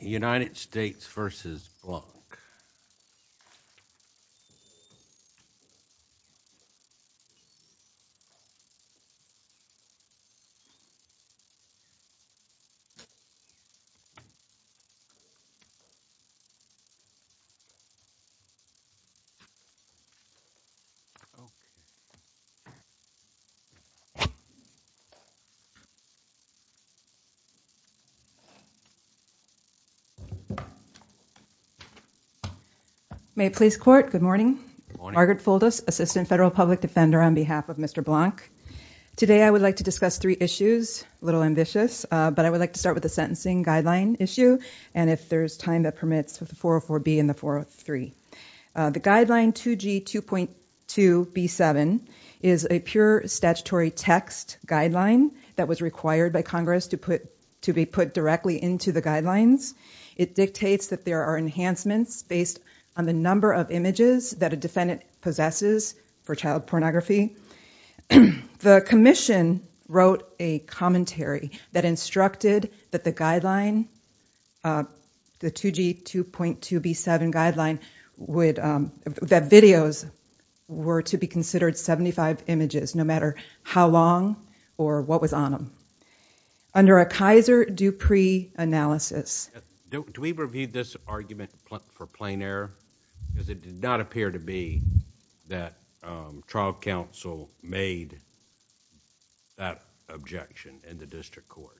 United States v. Ynddy Blanc Good morning. Margaret Fuldus, Assistant Federal Public Defender on behalf of Mr. Blanc. Today I would like to discuss three issues, a little ambitious, but I would like to start with the sentencing guideline issue and if there's time that permits the 404B and the 403. The guideline 2G 2.2B7 is a pure statutory text guideline that was required by Congress to be put directly into the guidelines. It dictates that there are enhancements based on the number of images that a defendant possesses for child pornography. The commission wrote a commentary that instructed that the guideline, the 2G 2.2B7 guideline, that videos were to be considered 75 images no matter how long or what was on them. Under a Kaiser Dupree analysis... Do we review this argument for plain error? Because it did not appear to be that trial counsel made that objection in the district court.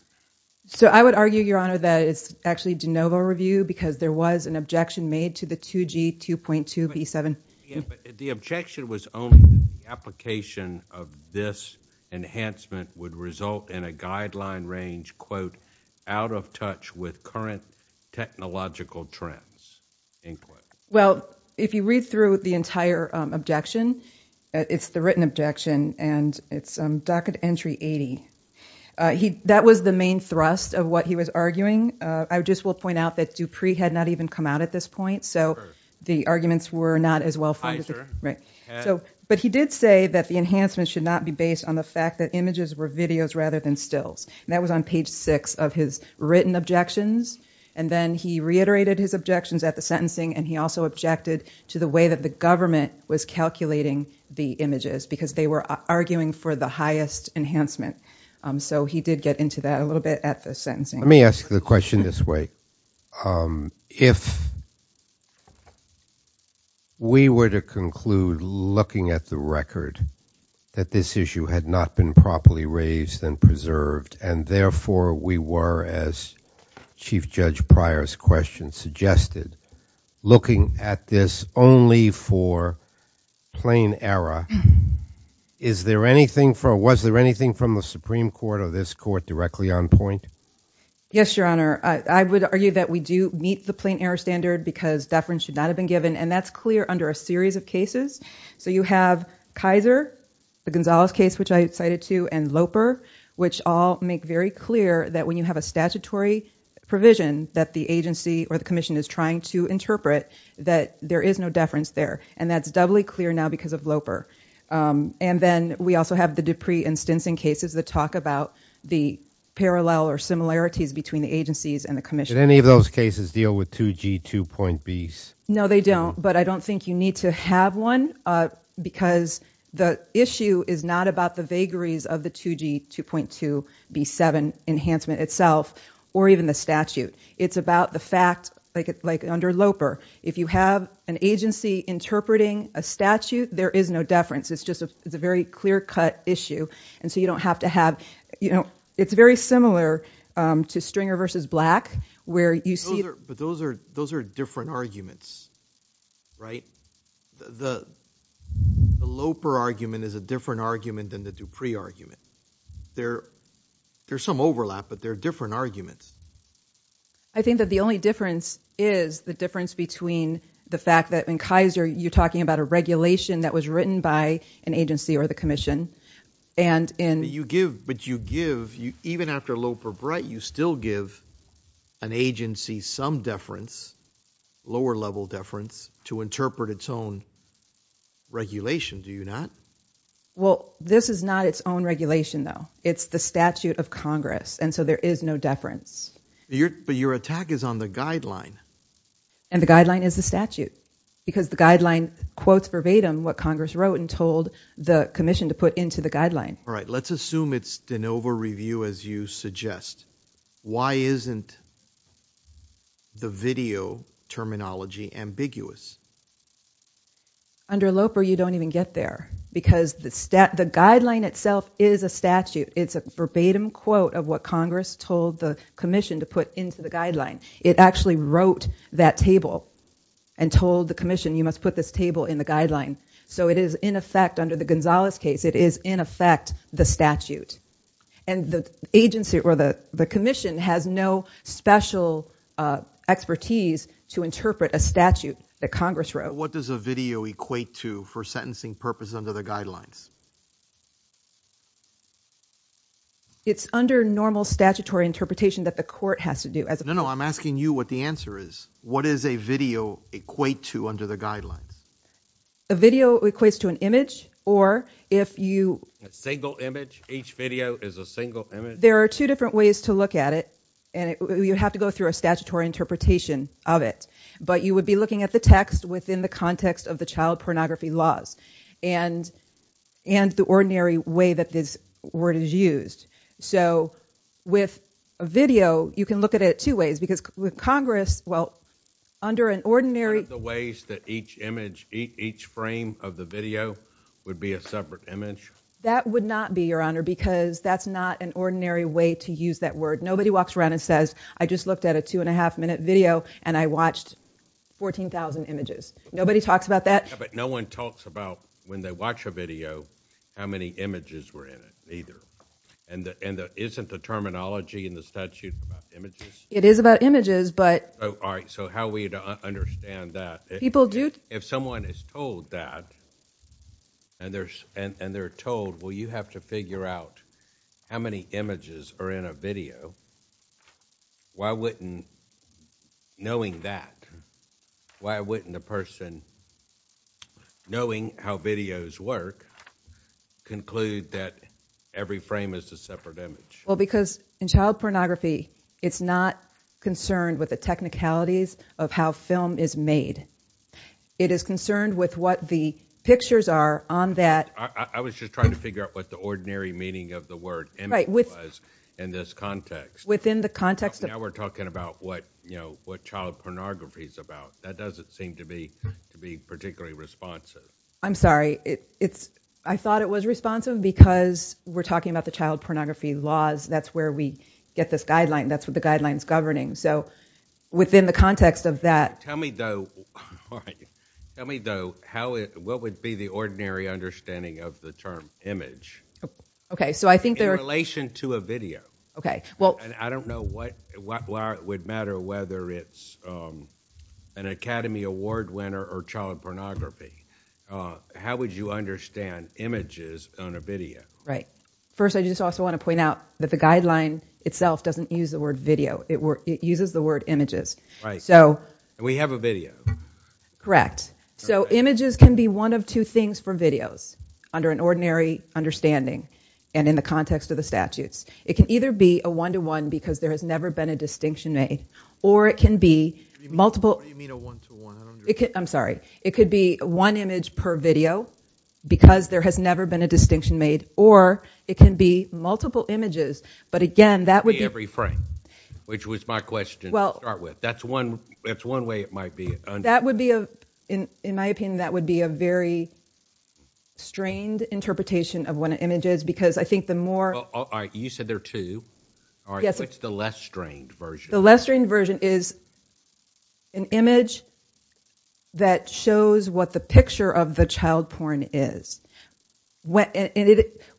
So I would argue, Your Honor, that it's actually de novo review because there was an objection made to the 2G 2.2B7. But the objection was only the application of this enhancement would result in a guideline range, quote, out of touch with current technological trends, end quote. Well, if you read through the entire objection, it's the written objection and it's docket entry 80. That was the main thrust of what he was arguing. I just will point out that Dupree had not even come out at this point. So the arguments were not as well... Right. But he did say that the enhancement should not be based on the fact that images were videos rather than stills. And that was on page six of his written objections. And then he reiterated his objections at the sentencing and he also objected to the way that the government was calculating the images because they were arguing for the highest enhancement. So he did get into that a little bit at the sentencing. Let me ask the question this way. If we were to conclude looking at the record that this issue had not been properly raised and preserved and therefore we were, as Chief Judge Pryor's question suggested, looking at this only for plain error, was there anything from the Supreme Court or this court directly on point? Yes, Your Honor. I would argue that we do meet the plain error standard because deference should not have been given and that's clear under a series of cases. So you have Kaiser, the Gonzalez case, which I cited too, and Loper, which all make very clear that when you have a statutory provision that the agency or the commission is trying to interpret that there is no deference there. And that's doubly clear now because of Loper. And then we also have the Dupree and Stinson cases that talk about the parallel or similarities between the agencies and the commission. Did any of those cases deal with 2G2.Bs? No, they don't. But I don't think you need to have one because the issue is not about the vagaries of the 2G2.2B7 enhancement itself or even the statute. It's about the fact, like under Loper, if you have an agency interpreting a statute, there is no deference. It's just a very clear-cut issue. And so you don't have to have, you know, it's very similar to Stringer v. Black where you see- But those are different arguments, right? The Loper argument is a different argument than the Dupree argument. There's some overlap, but they're different arguments. I think that the only difference is the difference between the fact that in Kaiser, you're talking about a regulation that was written by an agency or the commission. But you give, even after Loper-Brett, you still give an agency some deference, lower-level deference, to interpret its own regulation, do you not? Well, this is not its own regulation, though. It's the statute of Congress, and so there is no deference. But your attack is on the guideline. And the guideline is the statute because the guideline quotes verbatim what Congress wrote and told the commission to put into the guideline. All right, let's assume it's de novo review as you suggest. Why isn't the video terminology ambiguous? Under Loper, you don't even get there because the guideline itself is a statute. It's a verbatim quote of what Congress told the commission to put into the guideline. It actually wrote that table and told the commission, you must put this table in the guideline. So it is, in effect, under the Gonzalez case, it is, in effect, the statute. And the agency or the commission has no special expertise to interpret a statute that Congress wrote. What does a video equate to for sentencing purpose under the guidelines? It's under normal statutory interpretation that the court has to do. No, no, I'm asking you what the answer is. What does a video equate to under the guidelines? A video equates to an image or if you... A single image? Each video is a single image? There are two different ways to look at it. And you have to go through a statutory interpretation of it. But you would be looking at the text within the context of the child pornography laws and the ordinary way that this word is used. So with a video, you can look at it two ways. Because with Congress, well, under an ordinary... The ways that each image, each frame of the video would be a separate image? That would not be, Your Honor, because that's not an ordinary way to use that word. Nobody walks around and says, I just looked at a two and a half minute video and I watched 14,000 images. Nobody talks about that. But no one talks about when they watch a video, how many images were in it either. And isn't the terminology in the statute about images? It is about images, but... All right. So how are we to understand that? People do... If someone is told that and they're told, well, you have to figure out how many images are in a video, why wouldn't knowing that, why wouldn't a person knowing how videos work conclude that every frame is a separate image? Well, because in child pornography, it's not concerned with the technicalities of how film is made. It is concerned with what the pictures are on that... I was just trying to figure out what the ordinary meaning of the word was in this context. Within the context of... Now we're talking about what child pornography is about. That doesn't seem to be particularly responsive. I'm sorry. I thought it was responsive because we're talking about the child that's where we get this guideline. That's what the guideline is governing. So within the context of that... Tell me though, what would be the ordinary understanding of the term image? Okay. So I think there... In relation to a video. Okay. Well... And I don't know why it would matter whether it's an Academy Award winner or child pornography. How would you understand images on a video? Right. First, I just also want to point out that the guideline itself doesn't use the word video. It uses the word images. Right. And we have a video. Correct. So images can be one of two things for videos under an ordinary understanding. And in the context of the statutes, it can either be a one-to-one because there has never been a distinction made, or it can be multiple... What do you mean a one-to-one? I'm sorry. It could be one image per video because there has never been a distinction made, or it can be multiple images. But again, that would be... Every frame, which was my question to start with. That's one way it might be understood. That would be, in my opinion, that would be a very strained interpretation of what an image is because I think the more... All right. You said there are two. All right. What's the less strained version? The less strained version is an image that shows what the picture of the child porn is. When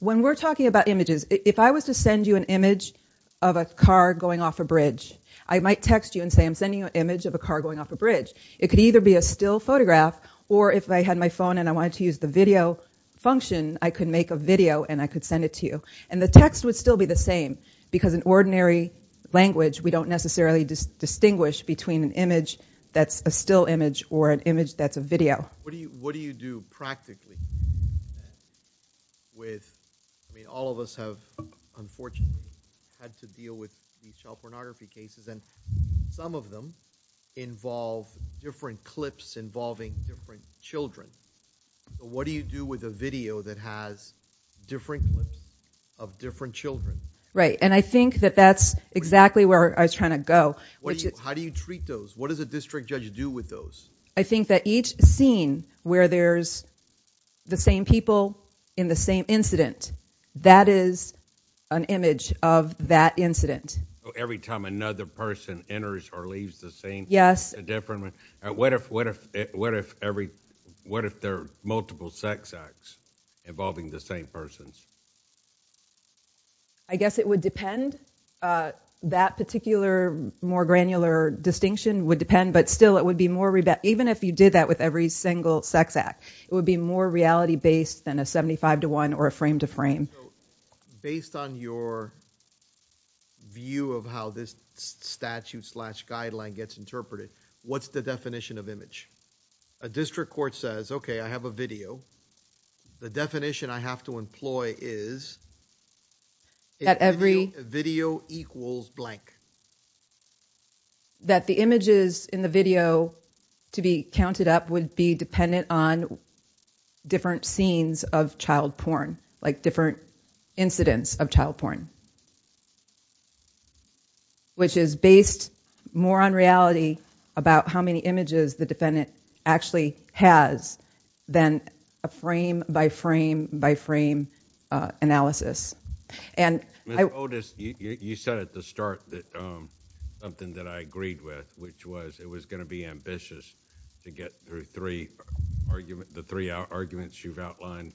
we're talking about images, if I was to send you an image of a car going off a bridge, I might text you and say, I'm sending you an image of a car going off a bridge. It could either be a still photograph, or if I had my phone and I wanted to use the video function, I could make a video and I could send it to you. And the text would still be the same because in ordinary language, we don't necessarily distinguish between an image that's a still image or an image that's a video. What do you do practically with... I mean, all of us have unfortunately had to deal with these child pornography cases and some of them involve different clips involving different children. But what do you do with a video that has different clips of different children? Right. And I think that that's exactly where I was trying to go. How do you treat those? What does a district judge do with those? I think that each scene where there's the same people in the same incident, that is an image of that incident. Every time another person enters or leaves the scene? Yes. What if there are multiple sex acts involving the same persons? I guess it would depend. That particular more granular distinction would depend, but still it would be more even if you did that with every single sex act, it would be more reality based than a 75 to one or a frame to frame. Based on your view of how this statute slash guideline gets interpreted, what's the definition of image? A district court says, okay, I have a video. The definition I have to employ is... That every... Video equals blank. ...that the images in the video to be counted up would be dependent on different scenes of child porn, like different incidents of child porn. Which is based more on reality about how many images the defendant actually has than a frame by frame by frame analysis. Ms. Otis, you said at the start that something that I agreed with, which was it was going to be ambitious to get through the three arguments you've outlined.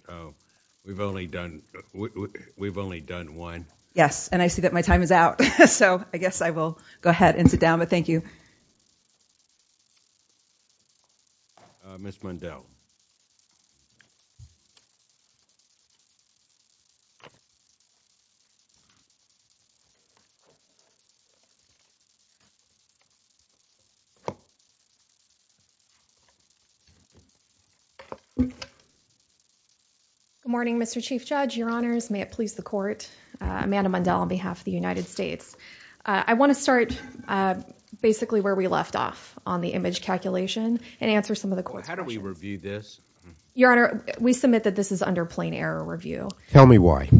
We've only done one. Yes, and I see that my time is out, so I guess I will go ahead and sit down, but thank you. Ms. Mundell. Good morning, Mr. Chief Judge, Your Honors. May it please the court. Amanda Mundell on behalf of the United States. I want to start basically where we left off on the image calculation and answer some of the court's questions. How do we review this? Your Honor, we submit that this is under plain error review. Tell me why.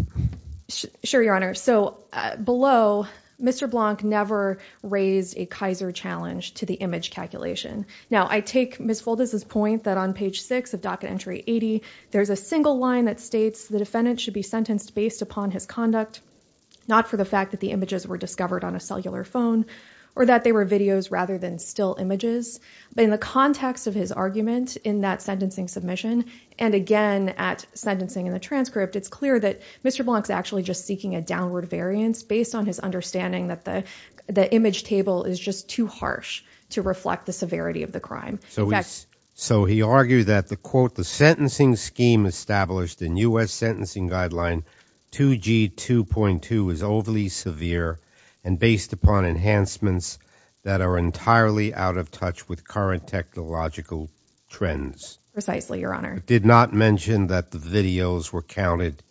Sure, Your Honor. So below, Mr. Blanc never raised a Kaiser challenge to the image calculation. Now, I take Ms. Fulda's point that on page six of docket entry 80, there's a single line that states the defendant should be sentenced based upon his conduct, not for the fact that the images were discovered on a cellular phone or that they were videos rather than still images. But in the context of his argument in that sentencing submission, and again at sentencing in the transcript, it's clear that Mr. Blanc is actually just seeking a downward variance based on his understanding that the image table is just too harsh to reflect the severity of the crime. So he argued that the quote, the sentencing scheme established in U.S. sentencing guideline 2G 2.2 is overly severe and based upon enhancements that are entirely out of touch with current technological trends. Precisely, Your Honor. Did not mention that the videos were counted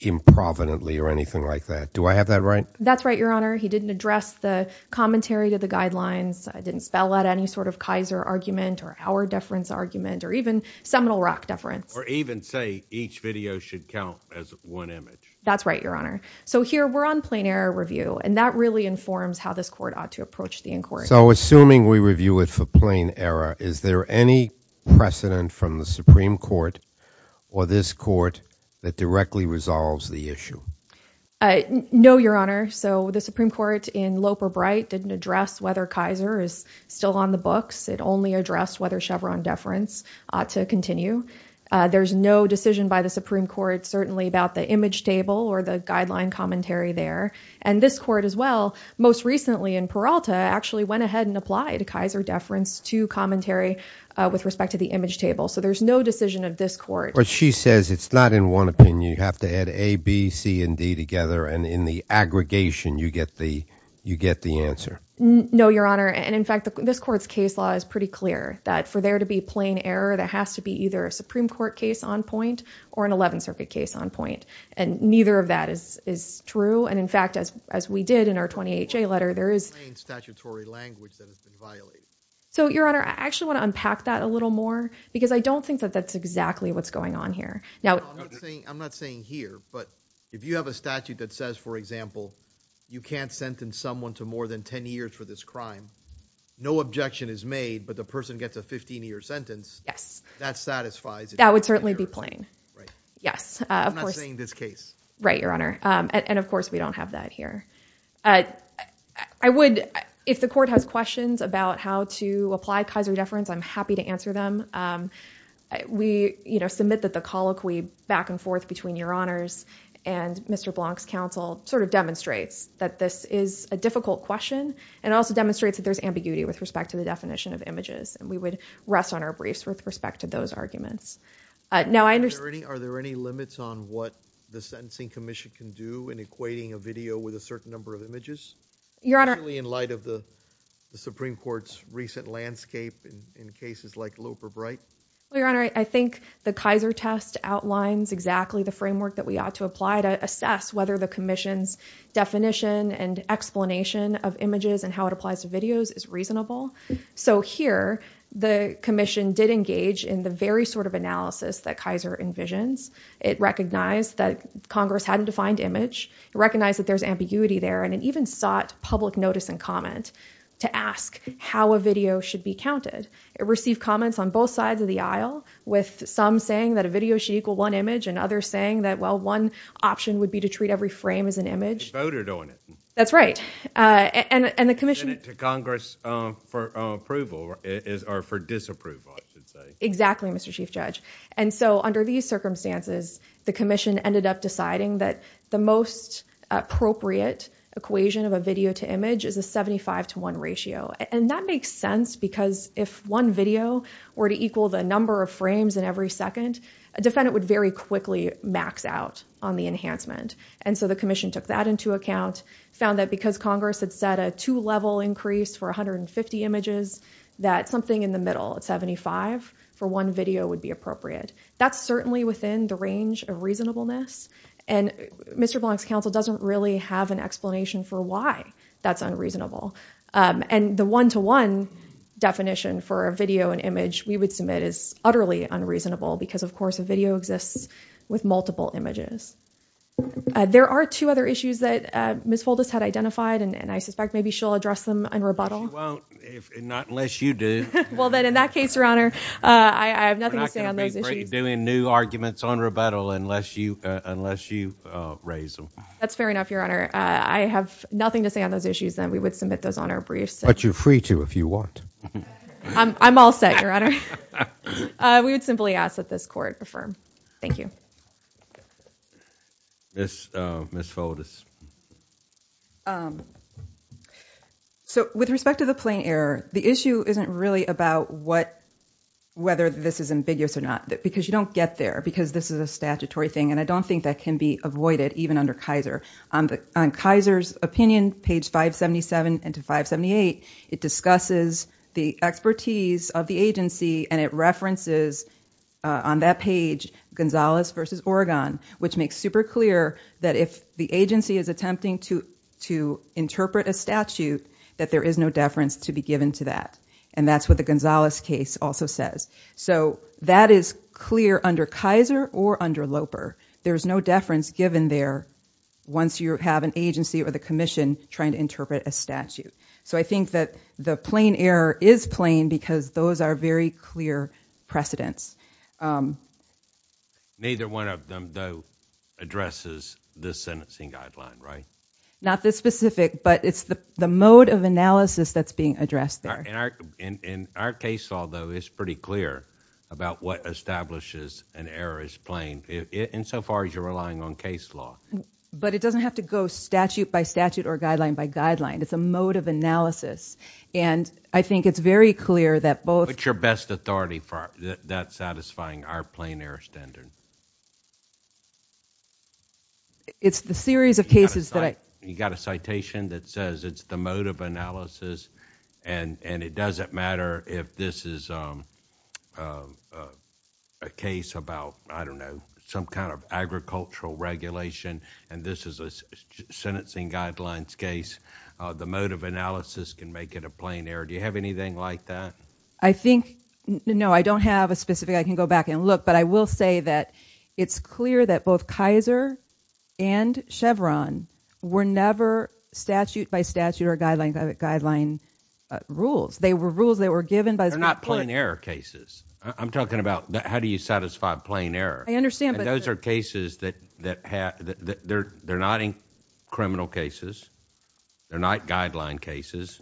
improvidently or anything like that. Do I have that right? That's right, Your Honor. He didn't address the commentary to the guidelines. I didn't spell out any sort of Kaiser argument or our deference argument or even seminal rock deference. Or even say each video should count as one image. That's right, Your Honor. So here we're on plain error review, and that really informs how this court ought to approach the inquiry. So assuming we review it for plain error, is there any precedent from the Supreme Court or this court that directly resolves the issue? No, Your Honor. So the Supreme Court in Lope or Bright didn't address whether Kaiser is still on the books. It only addressed whether Chevron deference ought to continue. There's no decision by the Supreme Court, certainly about the image table or the guideline commentary there. And this court as well, most recently in Peralta, actually went ahead and applied Kaiser deference to commentary with respect to the image table. So there's no decision of this court. But she says it's not in one opinion. You have to add A, B, C, and D together. And in the aggregation, you get the answer. No, Your Honor. And in fact, this court's case law is pretty clear that for there to be plain error, there has to be either a Supreme Court case on point or an 11th Circuit case on point. And neither of that is true. And in fact, as we did in our 20HA letter, there is... Plain statutory language that has been violated. So, Your Honor, I actually want to unpack that a little more because I don't think that that's exactly what's going on here. No, I'm not saying here. But if you have a statute that says, for example, you can't sentence someone to more than 10 years for this crime, no objection is made, but the person gets a 15-year sentence. Yes. That satisfies... That would certainly be plain. Right. Yes. I'm not saying this case. Right, Your Honor. And of course, we don't have that here. I would... If the court has questions about how to apply kaiser deference, I'm happy to answer them. We, you know, submit that the colloquy back and forth between Your Honors and Mr. Blanc's counsel sort of demonstrates that this is a difficult question and also demonstrates that there's ambiguity with respect to the definition of images. And we would rest on our briefs with respect to those arguments. Now, I understand... Are there any limits on what the Sentencing Commission can do in equating a video with a certain number of images? Your Honor... Really in light of the Supreme Court's recent landscape in cases like Lope or Bright? Well, Your Honor, I think the Kaiser test outlines exactly the framework that we ought to apply to assess whether the commission's definition and explanation of images and how it applies to videos is reasonable. So here, the commission did engage in the very sort of analysis that Kaiser envisions. It recognized that Congress hadn't defined image, recognized that there's ambiguity there, and it even sought public notice and comment to ask how a video should be counted. It received comments on both sides of the aisle with some saying that a video should equal one image and others saying that, well, one option would be to treat every frame as an image. Voted on it. That's right. And the commission... Sent it to Congress for approval or for disapproval, I should say. Exactly, Mr. Chief Judge. And so under these circumstances, the commission ended up deciding that the most appropriate equation of a video to image is a 75 to one ratio. And that makes sense because if one video were to equal the number of frames in every second, a defendant would very quickly max out on the enhancement. And so the commission took that into account, found that because Congress had set a two-level increase for 150 images, that something in the middle at 75 for one video would be appropriate. That's certainly within the range of reasonableness. And Mr. Blank's counsel doesn't really have an explanation for why that's unreasonable. And the one-to-one definition for a video and image we would submit is utterly unreasonable because, of course, a video exists with multiple images. There are two other issues that Ms. Foldis had identified, and I suspect maybe she'll address them in rebuttal. She won't, not unless you do. Well, then in that case, Your Honor, I have nothing to say on those issues. We're not going to be doing new arguments on rebuttal unless you raise them. That's fair enough, Your Honor. I have nothing to say on those issues, then. We would submit those on our briefs. But you're free to if you want. I'm all set, Your Honor. We would simply ask that this court affirm. Thank you. Ms. Foldis. So with respect to the plain error, the issue isn't really about whether this is ambiguous or not, because you don't get there, because this is a statutory thing. And I don't think that can be avoided, even under Kaiser. On Kaiser's opinion, page 577 and to 578, it discusses the expertise of the agency, and it references, on that page, Gonzalez v. Oregon, which makes super clear that if the agency is attempting to interpret a statute, that there is no deference to be given to that. And that's what the Gonzalez case also says. So that is clear under Kaiser or under Loper. There's no deference given there once you have an agency or the commission trying to interpret a statute. So I think that the plain error is plain because those are very clear precedents. Neither one of them, though, addresses the sentencing guideline, right? Not this specific, but it's the mode of analysis that's being addressed there. And our case law, though, is pretty clear about what establishes an error as plain, insofar as you're relying on case law. But it doesn't have to go statute by statute or guideline by guideline. It's a mode of analysis. And I think it's very clear that both... What's your best authority for that satisfying our plain error standard? It's the series of cases that I... You got a citation that says it's the mode of analysis. And it doesn't matter if this is a case about, I don't know, some kind of agricultural regulation, and this is a sentencing guidelines case. The mode of analysis can make it a plain error. Do you have anything like that? I think... No, I don't have a specific. I can go back and look. But I will say that it's clear that both Kaiser and Chevron were never statute by statute or guideline by guideline rules. They were rules that were given by... They're not plain error cases. I'm talking about how do you satisfy plain error. I understand, but... Those are cases that have... They're not criminal cases. They're not guideline cases.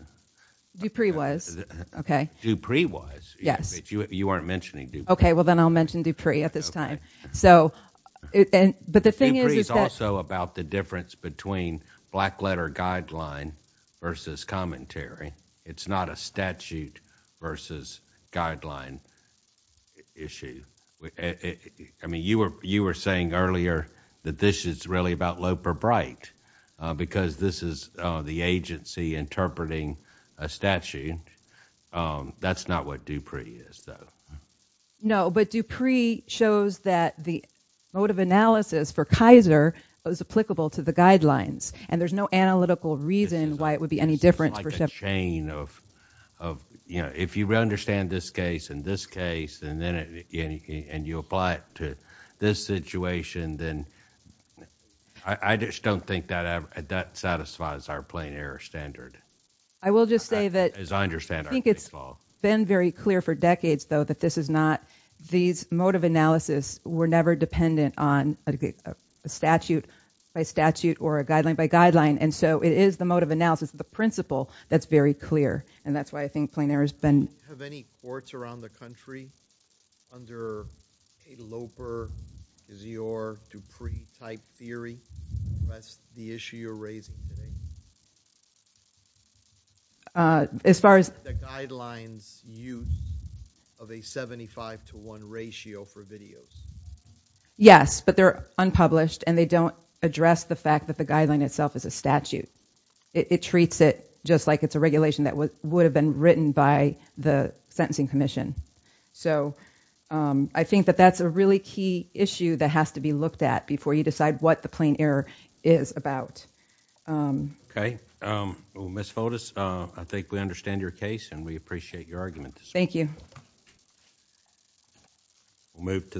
Dupree was, okay. Dupree was, but you weren't mentioning Dupree. Okay, well, then I'll mention Dupree at this time. But the thing is... Dupree is also about the difference between black letter guideline versus commentary. It's not a statute versus guideline issue. I mean, you were saying earlier that this is really about Loeb or Bright because this is the agency interpreting a statute. That's not what Dupree is, though. No, but Dupree shows that the mode of analysis for Kaiser was applicable to the guidelines, and there's no analytical reason why it would be any different for... It's like a chain of... If you understand this case and this case, and then you apply it to this situation, then I just don't think that satisfies our plain error standard. I will just say that... It's been very clear for decades, though, that this is not... These mode of analysis were never dependent on a statute by statute or a guideline by guideline, and so it is the mode of analysis, the principle, that's very clear, and that's why I think plain error has been... Have any courts around the country, under a Loper, Dupree-type theory, addressed the issue you're raising today? As far as... The guidelines use of a 75 to 1 ratio for videos. Yes, but they're unpublished, and they don't address the fact that the guideline itself is a statute. It treats it just like it's a regulation that would have been written by the Sentencing Commission. So I think that that's a really key issue that has to be looked at before you decide what the plain error is about. Okay. Ms. Fotis, I think we understand your case, and we appreciate your argument this morning. Thank you. We'll move to...